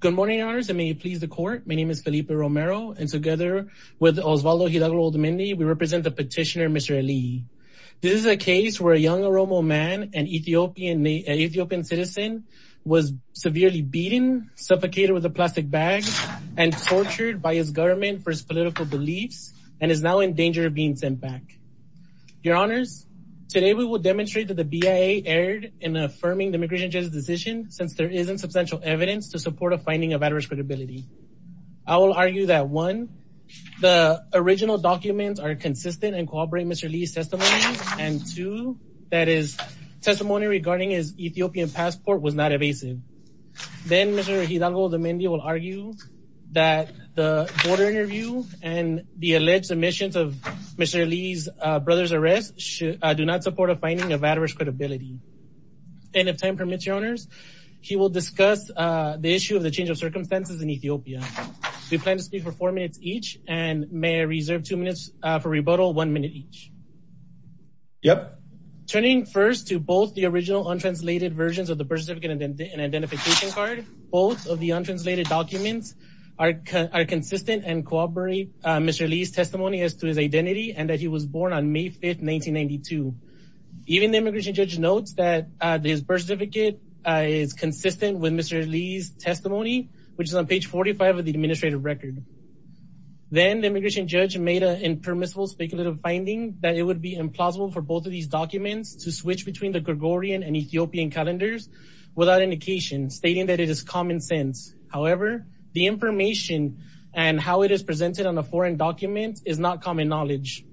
Good morning honors and may you please the court. My name is Felipe Romero and together with Osvaldo Hidalgo-Odomendi we represent the petitioner Mr. Aliyyi. This is a case where a young Oromo man, an Ethiopian citizen, was severely beaten, suffocated with a plastic bag, and tortured by his government for his political beliefs and is now in danger of being sent back. Your honors, today we will demonstrate that the BIA erred in affirming the immigration decision since there isn't substantial evidence to support a finding of adverse credibility. I will argue that one, the original documents are consistent and corroborate Mr. Aliyyi's testimony, and two, that his testimony regarding his Ethiopian passport was not evasive. Then Mr. Hidalgo-Odomendi will argue that the border interview and the alleged submissions of Mr. Aliyyi's brother's arrest do not support a finding of adverse credibility. And if time permits, your honors, he will discuss the issue of the change of circumstances in Ethiopia. We plan to speak for four minutes each and may I reserve two minutes for rebuttal, one minute each. Yep. Turning first to both the original untranslated versions of the birth certificate and identification card, both of the untranslated documents are consistent and corroborate Mr. Aliyyi's testimony as to his identity and that he was born on May 5th, 1992. Even the immigration judge notes that his birth certificate is consistent with Mr. Aliyyi's testimony, which is on page 45 of the administrative record. Then the immigration judge made an impermissible speculative finding that it would be implausible for both of these documents to switch between the Gregorian and Ethiopian calendars without indication, stating that it is common sense. However, the information and how it is presented on a foreign document is not common knowledge.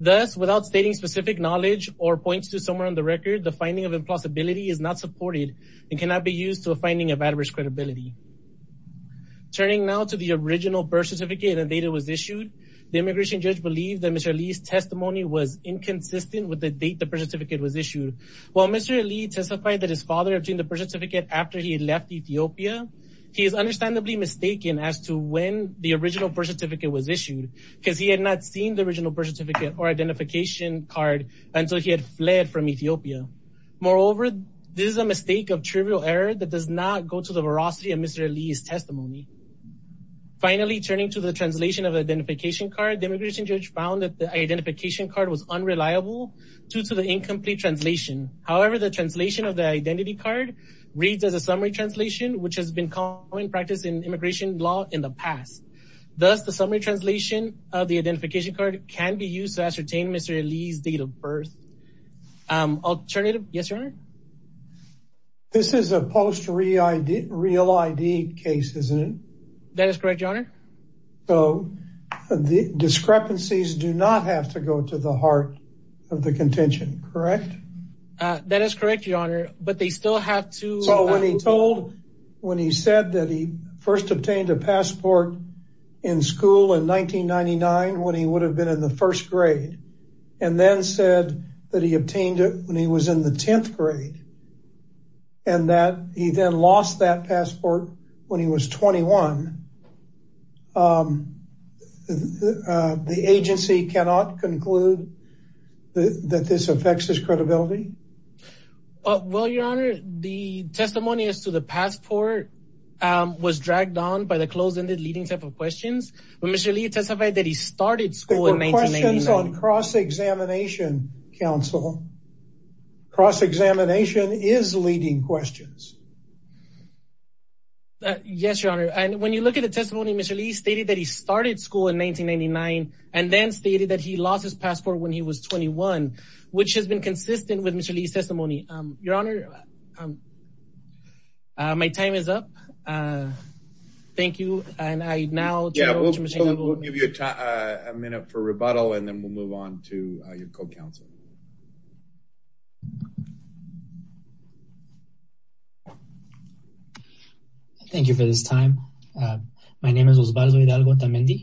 Thus, without stating specific knowledge or points to somewhere on the record, the finding of impossibility is not supported and cannot be used to a finding of adverse credibility. Turning now to the original birth certificate and date it was issued, the immigration judge believed that Mr. Aliyyi's testimony was inconsistent with the date the birth certificate was issued. While Mr. Aliyyi testified that his father obtained the birth certificate after he had left Ethiopia, he is understandably mistaken as to when the original birth certificate was issued because he had not seen the until he had fled from Ethiopia. Moreover, this is a mistake of trivial error that does not go to the veracity of Mr. Aliyyi's testimony. Finally, turning to the translation of identification card, the immigration judge found that the identification card was unreliable due to the incomplete translation. However, the translation of the identity card reads as a summary translation, which has been common practice in immigration law in the past. Thus, the summary translation of the identification card can be used to ascertain Mr. Aliyyi's date of birth. Alternative? Yes, Your Honor. This is a post real ID case, isn't it? That is correct, Your Honor. So the discrepancies do not have to go to the heart of the contention, correct? That is correct, Your Honor, but they still have to... So when he told, when he said that he first obtained a passport in school in the first grade and then said that he obtained it when he was in the 10th grade and that he then lost that passport when he was 21, the agency cannot conclude that this affects his credibility? Well, Your Honor, the testimony as to the passport was dragged on by the closed-ended leading type of questions, but Mr. Aliyyi testified that he started school in 1999. There were questions on cross-examination counsel. Cross-examination is leading questions. Yes, Your Honor, and when you look at the testimony, Mr. Aliyyi stated that he started school in 1999 and then stated that he lost his passport when he was 21, which has been consistent with Mr. Aliyyi's testimony. Yeah, we'll give you a minute for rebuttal and then we'll move on to your co-counsel. Thank you for this time. My name is Osvaldo Hidalgo Tamendi.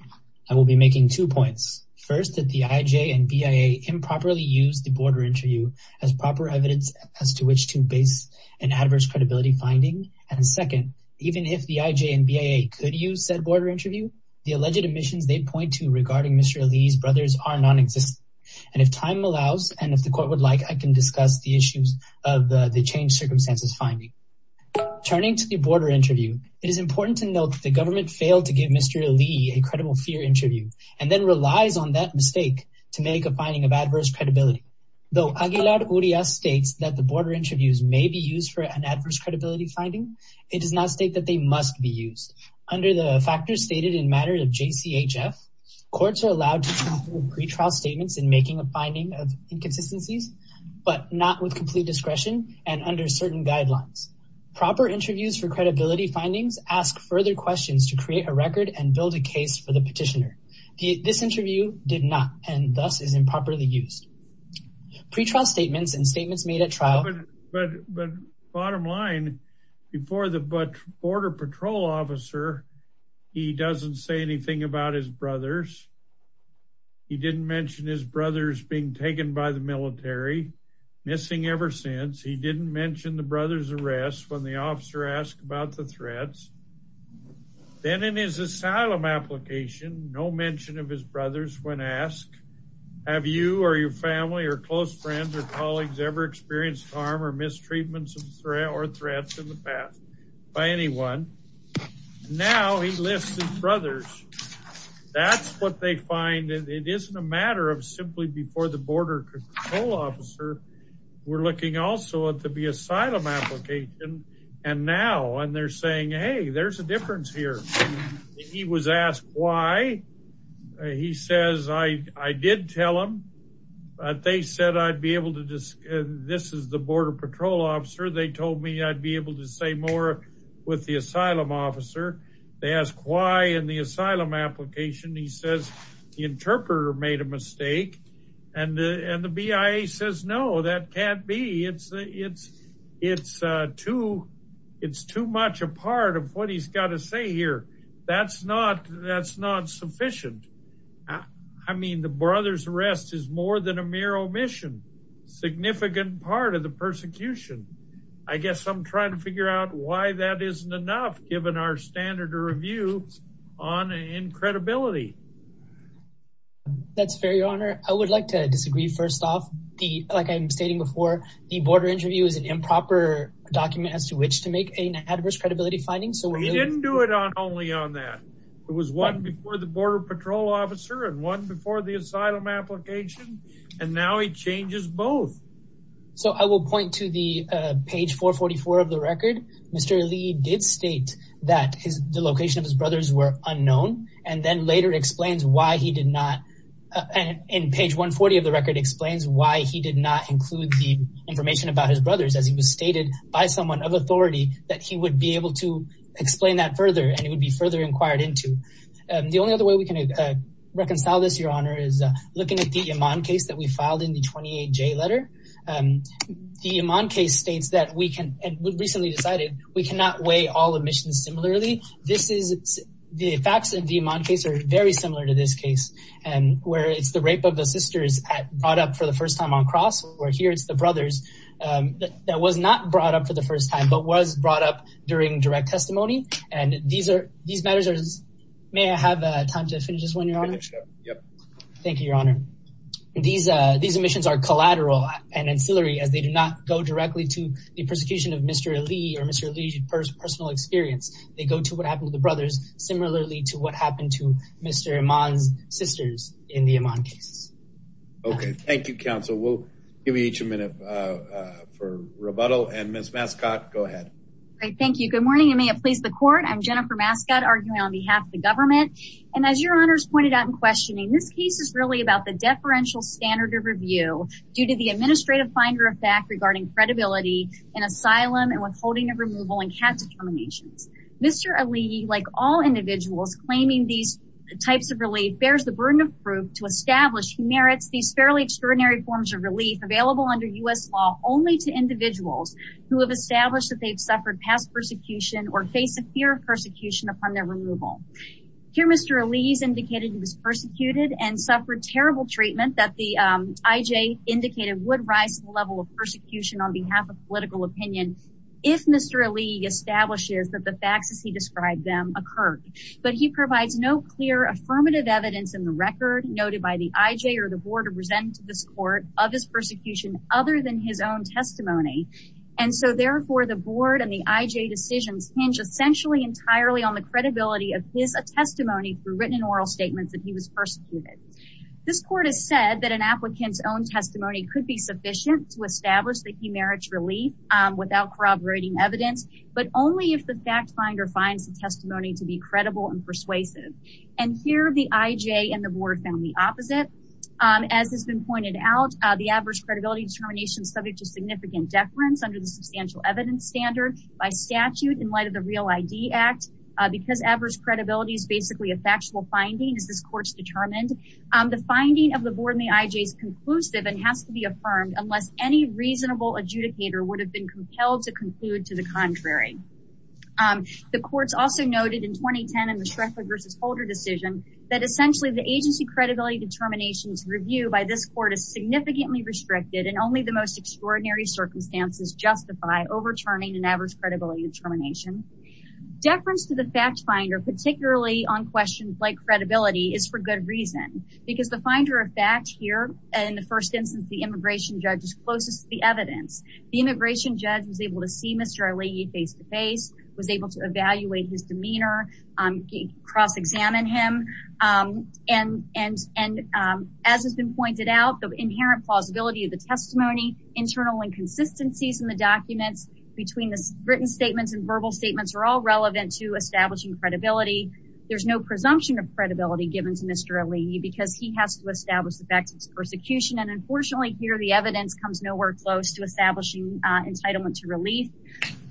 I will be making two points. First, did the IJ and BIA improperly use the border interview as proper evidence as to which to base an adverse credibility finding? And second, the alleged omissions they point to regarding Mr. Aliyyi's brothers are non-existent, and if time allows and if the court would like, I can discuss the issues of the change circumstances finding. Turning to the border interview, it is important to note the government failed to give Mr. Aliyyi a credible fear interview and then relies on that mistake to make a finding of adverse credibility. Though Aguilar Urias states that the border interviews may be used for an adverse credibility finding, it does not state that they must be used. Under the factors stated in matter of JCHF, courts are allowed to do pre-trial statements in making a finding of inconsistencies, but not with complete discretion and under certain guidelines. Proper interviews for credibility findings ask further questions to create a record and build a case for the petitioner. This interview did not and thus is improperly used. Pre-trial statements and statements made at trial... But bottom line, before the Border Patrol officer, he doesn't say anything about his brothers. He didn't mention his brothers being taken by the military, missing ever since. He didn't mention the brother's arrest when the officer asked about the threats. Then in his asylum application, no mention of his brothers when asked, have you or your family or close friends or colleagues ever experienced harm or mistreatments or threats in the past by anyone. Now he lists his brothers. That's what they find. It isn't a matter of simply before the Border Patrol officer, we're looking also at the asylum application and now and they're saying, hey, there's a difference here. He was asked why. He says, I did tell him, but they said I'd be able to say more with the asylum officer. They asked why in the asylum application. He says the interpreter made a mistake and the BIA says no, that can't be. It's too much a part of what he's got to say here. That's not sufficient. I mean the brother's arrest is more than a mere omission, significant part of the persecution. I guess I'm trying to figure out why that isn't enough given our standard of review on, in credibility. That's fair, your honor. I would like to disagree. First off, the, like I'm stating before, the border interview is an improper document as to which to make an adverse credibility finding. He didn't do it only on that. It was one before the Border Patrol officer and one before the asylum application and now he changes both. So I will point to the page 444 of the record. Mr. Lee did state that his, the location of his brothers were unknown and then later explains why he did not, in page 140 of the record, explains why he did not include the information about his brothers as he was stated by someone of authority that he would be able to explain that further and it would be further inquired into. The only other way we can reconcile this, your honor, is looking at the Iman case that we filed in the 28J letter. The Iman case states that we can, and we've recently decided, we cannot weigh all admissions similarly. This is, the facts in the Iman case are very similar to this case and where it's the rape of the sisters brought up for the first time on cross, where here it's the brothers that was not brought up for the first time but was brought up during direct testimony and these are, these matters are, may I have time to finish this one, thank you, your honor. These, these admissions are collateral and ancillary as they do not go directly to the persecution of Mr. Lee or Mr. Lee's personal experience. They go to what happened to the brothers similarly to what happened to Mr. Iman's sisters in the Iman case. Okay, thank you, counsel. We'll give each a minute for rebuttal and Ms. Mascott, go ahead. Thank you. Good morning and may it please the court. I'm Jennifer Mascott arguing on behalf of government and as your honors pointed out in questioning, this case is really about the deferential standard of review due to the administrative finder of fact regarding credibility in asylum and withholding of removal and cat determinations. Mr. Ali, like all individuals claiming these types of relief, bears the burden of proof to establish he merits these fairly extraordinary forms of relief available under U.S. law only to individuals who have established that they've suffered past persecution or face a fear of Mr. Ali's indicated he was persecuted and suffered terrible treatment that the IJ indicated would rise to the level of persecution on behalf of political opinion if Mr. Ali establishes that the facts as he described them occurred but he provides no clear affirmative evidence in the record noted by the IJ or the board of resentment to this court of his persecution other than his own testimony and so therefore the board and the IJ decisions hinge essentially entirely on the credibility of his a testimony through written and oral statements that he was persecuted. This court has said that an applicant's own testimony could be sufficient to establish that he merits relief without corroborating evidence but only if the fact finder finds the testimony to be credible and persuasive and here the IJ and the board found the opposite as has been pointed out the adverse credibility determination subject to significant deference under the substantial evidence standard by statute in light of the real ID Act because adverse credibility is basically a factual finding as this court's determined the finding of the board in the IJ is conclusive and has to be affirmed unless any reasonable adjudicator would have been compelled to conclude to the contrary. The courts also noted in 2010 in the Strickler versus Holder decision that essentially the agency credibility determinations review by this court is significantly restricted and only the most extraordinary circumstances justify overturning an adverse credibility determination. Deference to the fact finder particularly on questions like credibility is for good reason because the finder of fact here in the first instance the immigration judge is closest to the evidence. The immigration judge was able to see Mr. Aleighi face-to-face, was able to evaluate his demeanor, cross-examine him and as has been pointed out the inherent plausibility of the testimony internal inconsistencies in the documents between written statements and verbal statements are all relevant to establishing credibility. There's no presumption of credibility given to Mr. Aleighi because he has to establish the fact of his persecution and unfortunately here the evidence comes nowhere close to establishing entitlement to relief.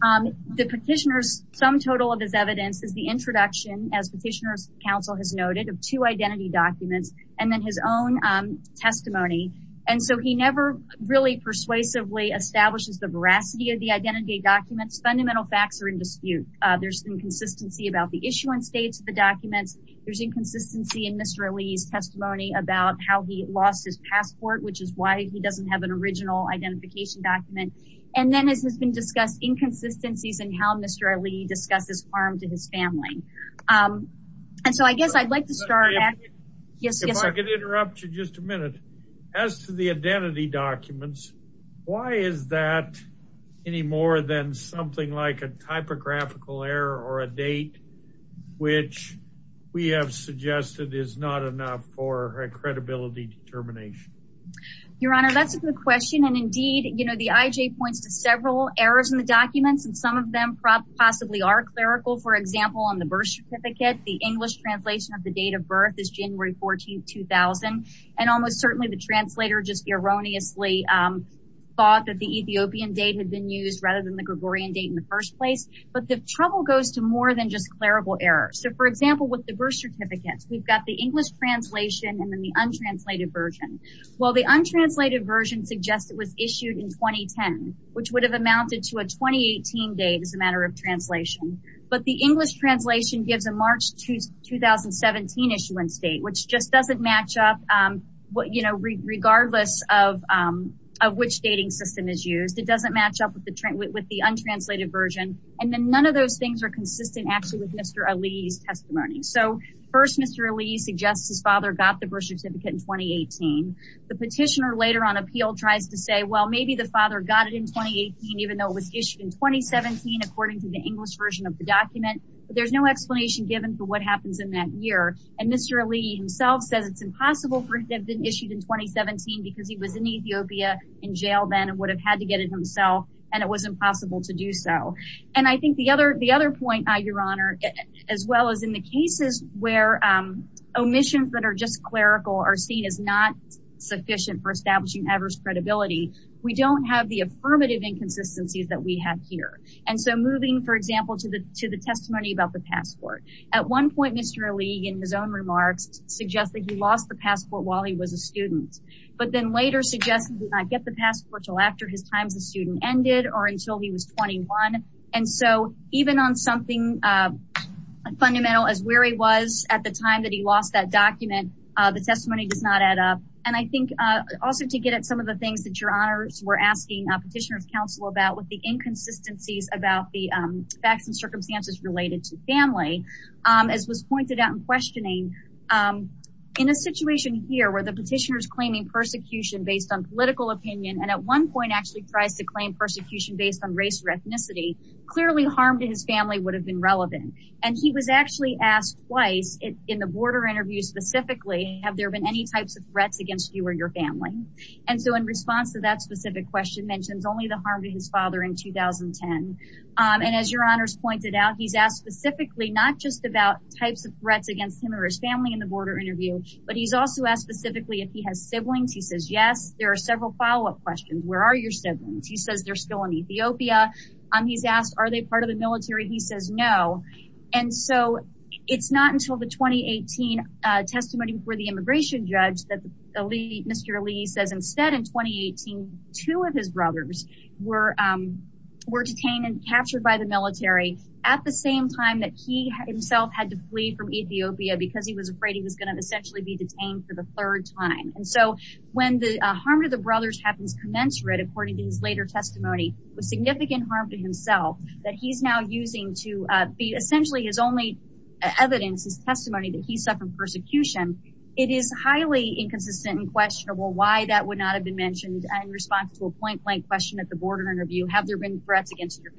The petitioner's sum total of his evidence is the introduction as petitioner's counsel has noted of two identity documents and then his own testimony and so he never really persuasively establishes the veracity of the identity documents. Fundamental facts are in dispute. There's inconsistency about the issue and states of the documents. There's inconsistency in Mr. Aleighi's testimony about how he lost his passport which is why he doesn't have an original identification document and then it has been discussed inconsistencies and how Mr. Aleighi discusses harm to his family and so I guess I'd like to start. If I could interrupt you just a minute. As to the identity documents why is that any more than something like a typographical error or a date which we have suggested is not enough for a credibility determination? Your Honor that's a good question and indeed you know the IJ points to several errors in the documents and some of them probably possibly are clerical. For example on the birth certificate the English translation of the date of birth is January 14, 2000 and almost certainly the translator just erroneously thought that the Ethiopian date had been used rather than the Gregorian date in the first place but the trouble goes to more than just clerical errors. So for example with the birth certificates we've got the English translation and then the untranslated version. Well the untranslated version suggests it was issued in 2010 which would have amounted to a 2018 date as a matter of translation but the English translation gives a March 2017 issuance date which just doesn't match up regardless of which dating system is used. It doesn't match up with the untranslated version and then none of those things are consistent actually with Mr. Ali's testimony. So first Mr. Ali suggests his father got the birth certificate in 2018. The petitioner later on appeal tries to say well maybe the father got it in 2018 even though it was issued in 2017 according to the English version of the document but there's no it's impossible for it have been issued in 2017 because he was in Ethiopia in jail then and would have had to get it himself and it was impossible to do so and I think the other the other point by your honor as well as in the cases where omissions that are just clerical are seen as not sufficient for establishing adverse credibility we don't have the affirmative inconsistencies that we have here and so moving for example to the to the testimony about the passport at one Mr. Ali in his own remarks suggests that he lost the passport while he was a student but then later suggested did not get the passport till after his times a student ended or until he was 21 and so even on something fundamental as weary was at the time that he lost that document the testimony does not add up and I think also to get at some of the things that your honors were asking petitioners counsel about with the inconsistencies about the facts and pointed out in questioning in a situation here where the petitioners claiming persecution based on political opinion and at one point actually tries to claim persecution based on race or ethnicity clearly harm to his family would have been relevant and he was actually asked twice in the border interview specifically have there been any types of threats against you or your family and so in response to that specific question mentions only the harm to his father in 2010 and as your honors pointed out he's asked specifically not just about types of threats against him or his family in the border interview but he's also asked specifically if he has siblings he says yes there are several follow-up questions where are your siblings he says they're still in Ethiopia um he's asked are they part of the military he says no and so it's not until the 2018 testimony before the immigration judge that the elite mr. Lee says instead in 2018 two of his brothers were were detained and captured by the himself had to flee from Ethiopia because he was afraid he was going to essentially be detained for the third time and so when the harm to the brothers happens commensurate according to his later testimony was significant harm to himself that he's now using to be essentially his only evidence his testimony that he suffered persecution it is highly inconsistent and questionable why that would not have been mentioned in response to a point blank question at the border interview have there been threats against your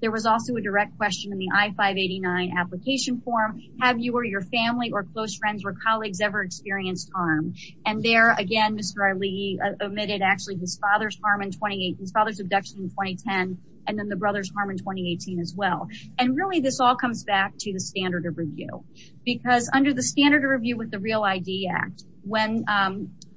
there was also a direct question in the i-589 application form have you or your family or close friends or colleagues ever experienced harm and there again mr. Lee admitted actually his father's harm in 2018 father's abduction in 2010 and then the brothers harm in 2018 as well and really this all comes back to the standard of review because under the standard of review with the real ID Act when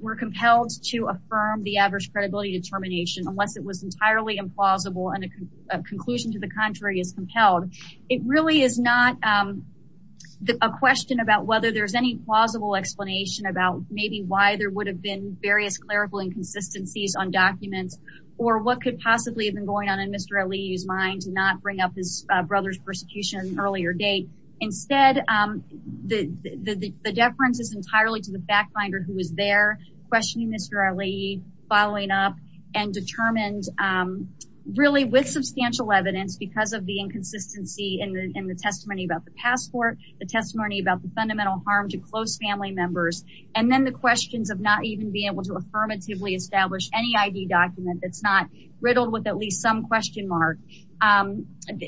we're compelled to affirm the adverse credibility determination unless it was entirely implausible and a conclusion to the contrary is compelled it really is not a question about whether there's any plausible explanation about maybe why there would have been various clerical inconsistencies on documents or what could possibly have been going on in mr. Lee's mind to not bring up his brother's persecution earlier date instead the the deference is entirely to the back finder who was there questioning mr. Lee following up and determined really with substantial evidence because of the inconsistency in the testimony about the passport the testimony about the fundamental harm to close family members and then the questions of not even being able to affirmatively establish any ID document that's not riddled with at least some question mark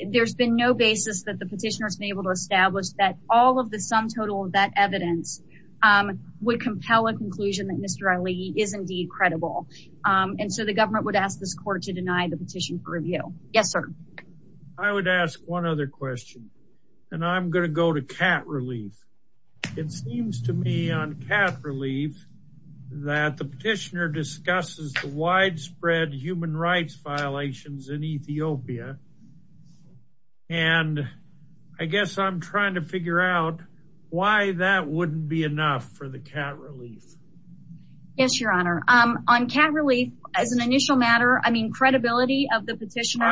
there's been no basis that the petitioners may able to establish that all of the sum total of that would compel a conclusion that mr. Ali is indeed credible and so the government would ask this court to deny the petition for review yes sir I would ask one other question and I'm gonna go to cat relief it seems to me on cat relief that the petitioner discusses the widespread human rights violations in wouldn't be enough for the cat relief yes your honor I'm on cat relief as an initial matter I mean credibility of the petitioner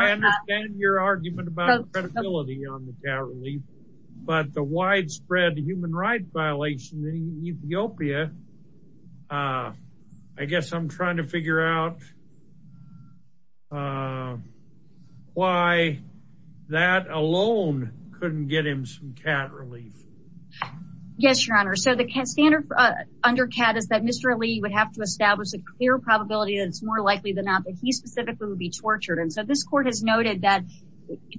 but the widespread human rights violations in Ethiopia I guess I'm trying to figure out why that alone couldn't get him some cat relief yes your honor so the standard under cat is that mr. Lee would have to establish a clear probability that it's more likely than not that he specifically would be tortured and so this court has noted that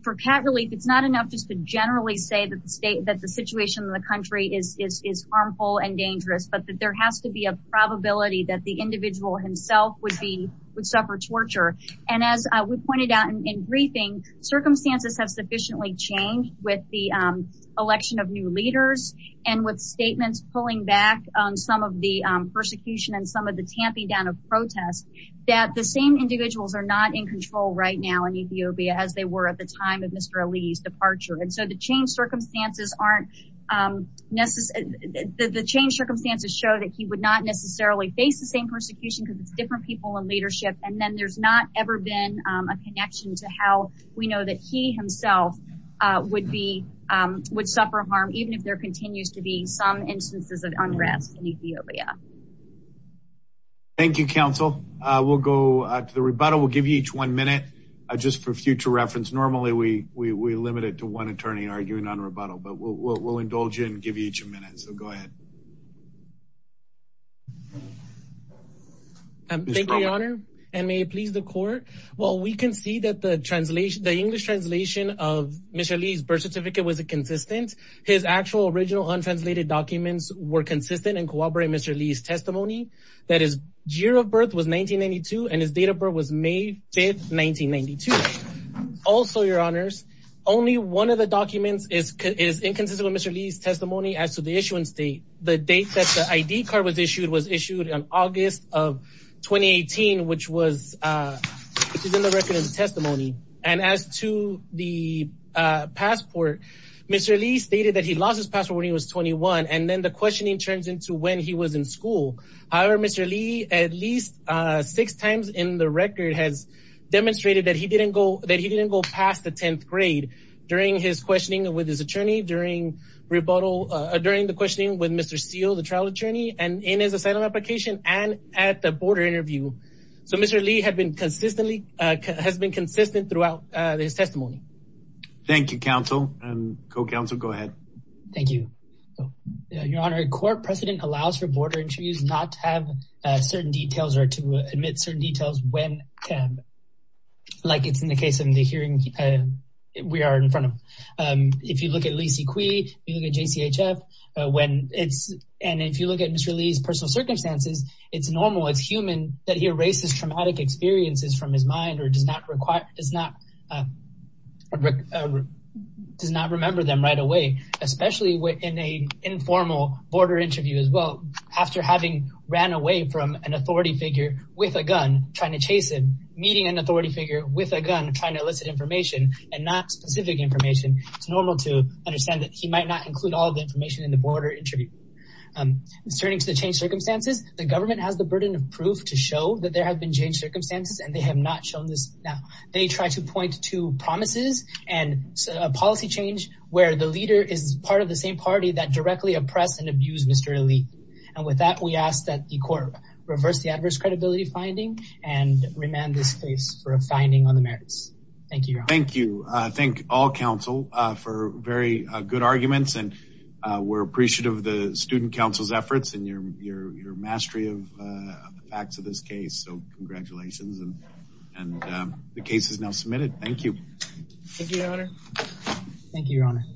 for cat relief it's not enough just to generally say that the state that the situation in the country is harmful and dangerous but that there has to be a probability that the individual himself would be would suffer torture and as we with the election of new leaders and with statements pulling back on some of the persecution and some of the tamping down of protests that the same individuals are not in control right now in Ethiopia as they were at the time of mr. Ali's departure and so the change circumstances aren't necessary the change circumstances show that he would not necessarily face the same persecution because it's different people in leadership and then there's not ever been a connection to how we know that he himself would be would suffer harm even if there continues to be some instances of unrest in Ethiopia thank you counsel we'll go to the rebuttal we'll give you each one minute just for future reference normally we we limit it to one attorney arguing on rebuttal but we'll indulge you and give you each a minute so go ahead and may please the court well we can see that the translation the English translation of mr. Lee's birth certificate was a consistent his actual original untranslated documents were consistent and cooperate mr. Lee's testimony that is year of birth was 1992 and his date of birth was May 5th 1992 also your honors only one of the documents is inconsistent mr. Lee's ID card was issued was issued on August of 2018 which was testimony and as to the passport mr. Lee stated that he lost his password he was 21 and then the questioning turns into when he was in school however mr. Lee at least six times in the record has demonstrated that he didn't go that he didn't go past the 10th grade during his questioning with his attorney during rebuttal during the questioning with mr. seal the trial attorney and in his asylum application and at the border interview so mr. Lee had been consistently has been consistent throughout this testimony Thank You counsel and co-counsel go ahead thank you your honor a court precedent allows for border interviews not to have certain details or to admit certain details when like it's in the case of hearing we are in front of if you look at Lisey Cui you look at JCHF when it's and if you look at mr. Lee's personal circumstances it's normal it's human that he erases traumatic experiences from his mind or does not require does not does not remember them right away especially within a informal border interview as well after having ran away from an authority figure with a gun trying to chase him meeting an authority figure with a gun trying to elicit information and not specific information it's normal to understand that he might not include all the information in the border interview turning to the change circumstances the government has the burden of proof to show that there have been changed circumstances and they have not shown this now they try to point to promises and a policy change where the leader is part of the same party that directly oppressed and abused mr. Lee and with that we ask that the court reverse the adverse credibility finding and remand this case for a finding on the merits thank you thank you I think all counsel for very good arguments and we're appreciative of the Student Council's efforts and your your mastery of the facts of this case so congratulations and the case is now submitted thank you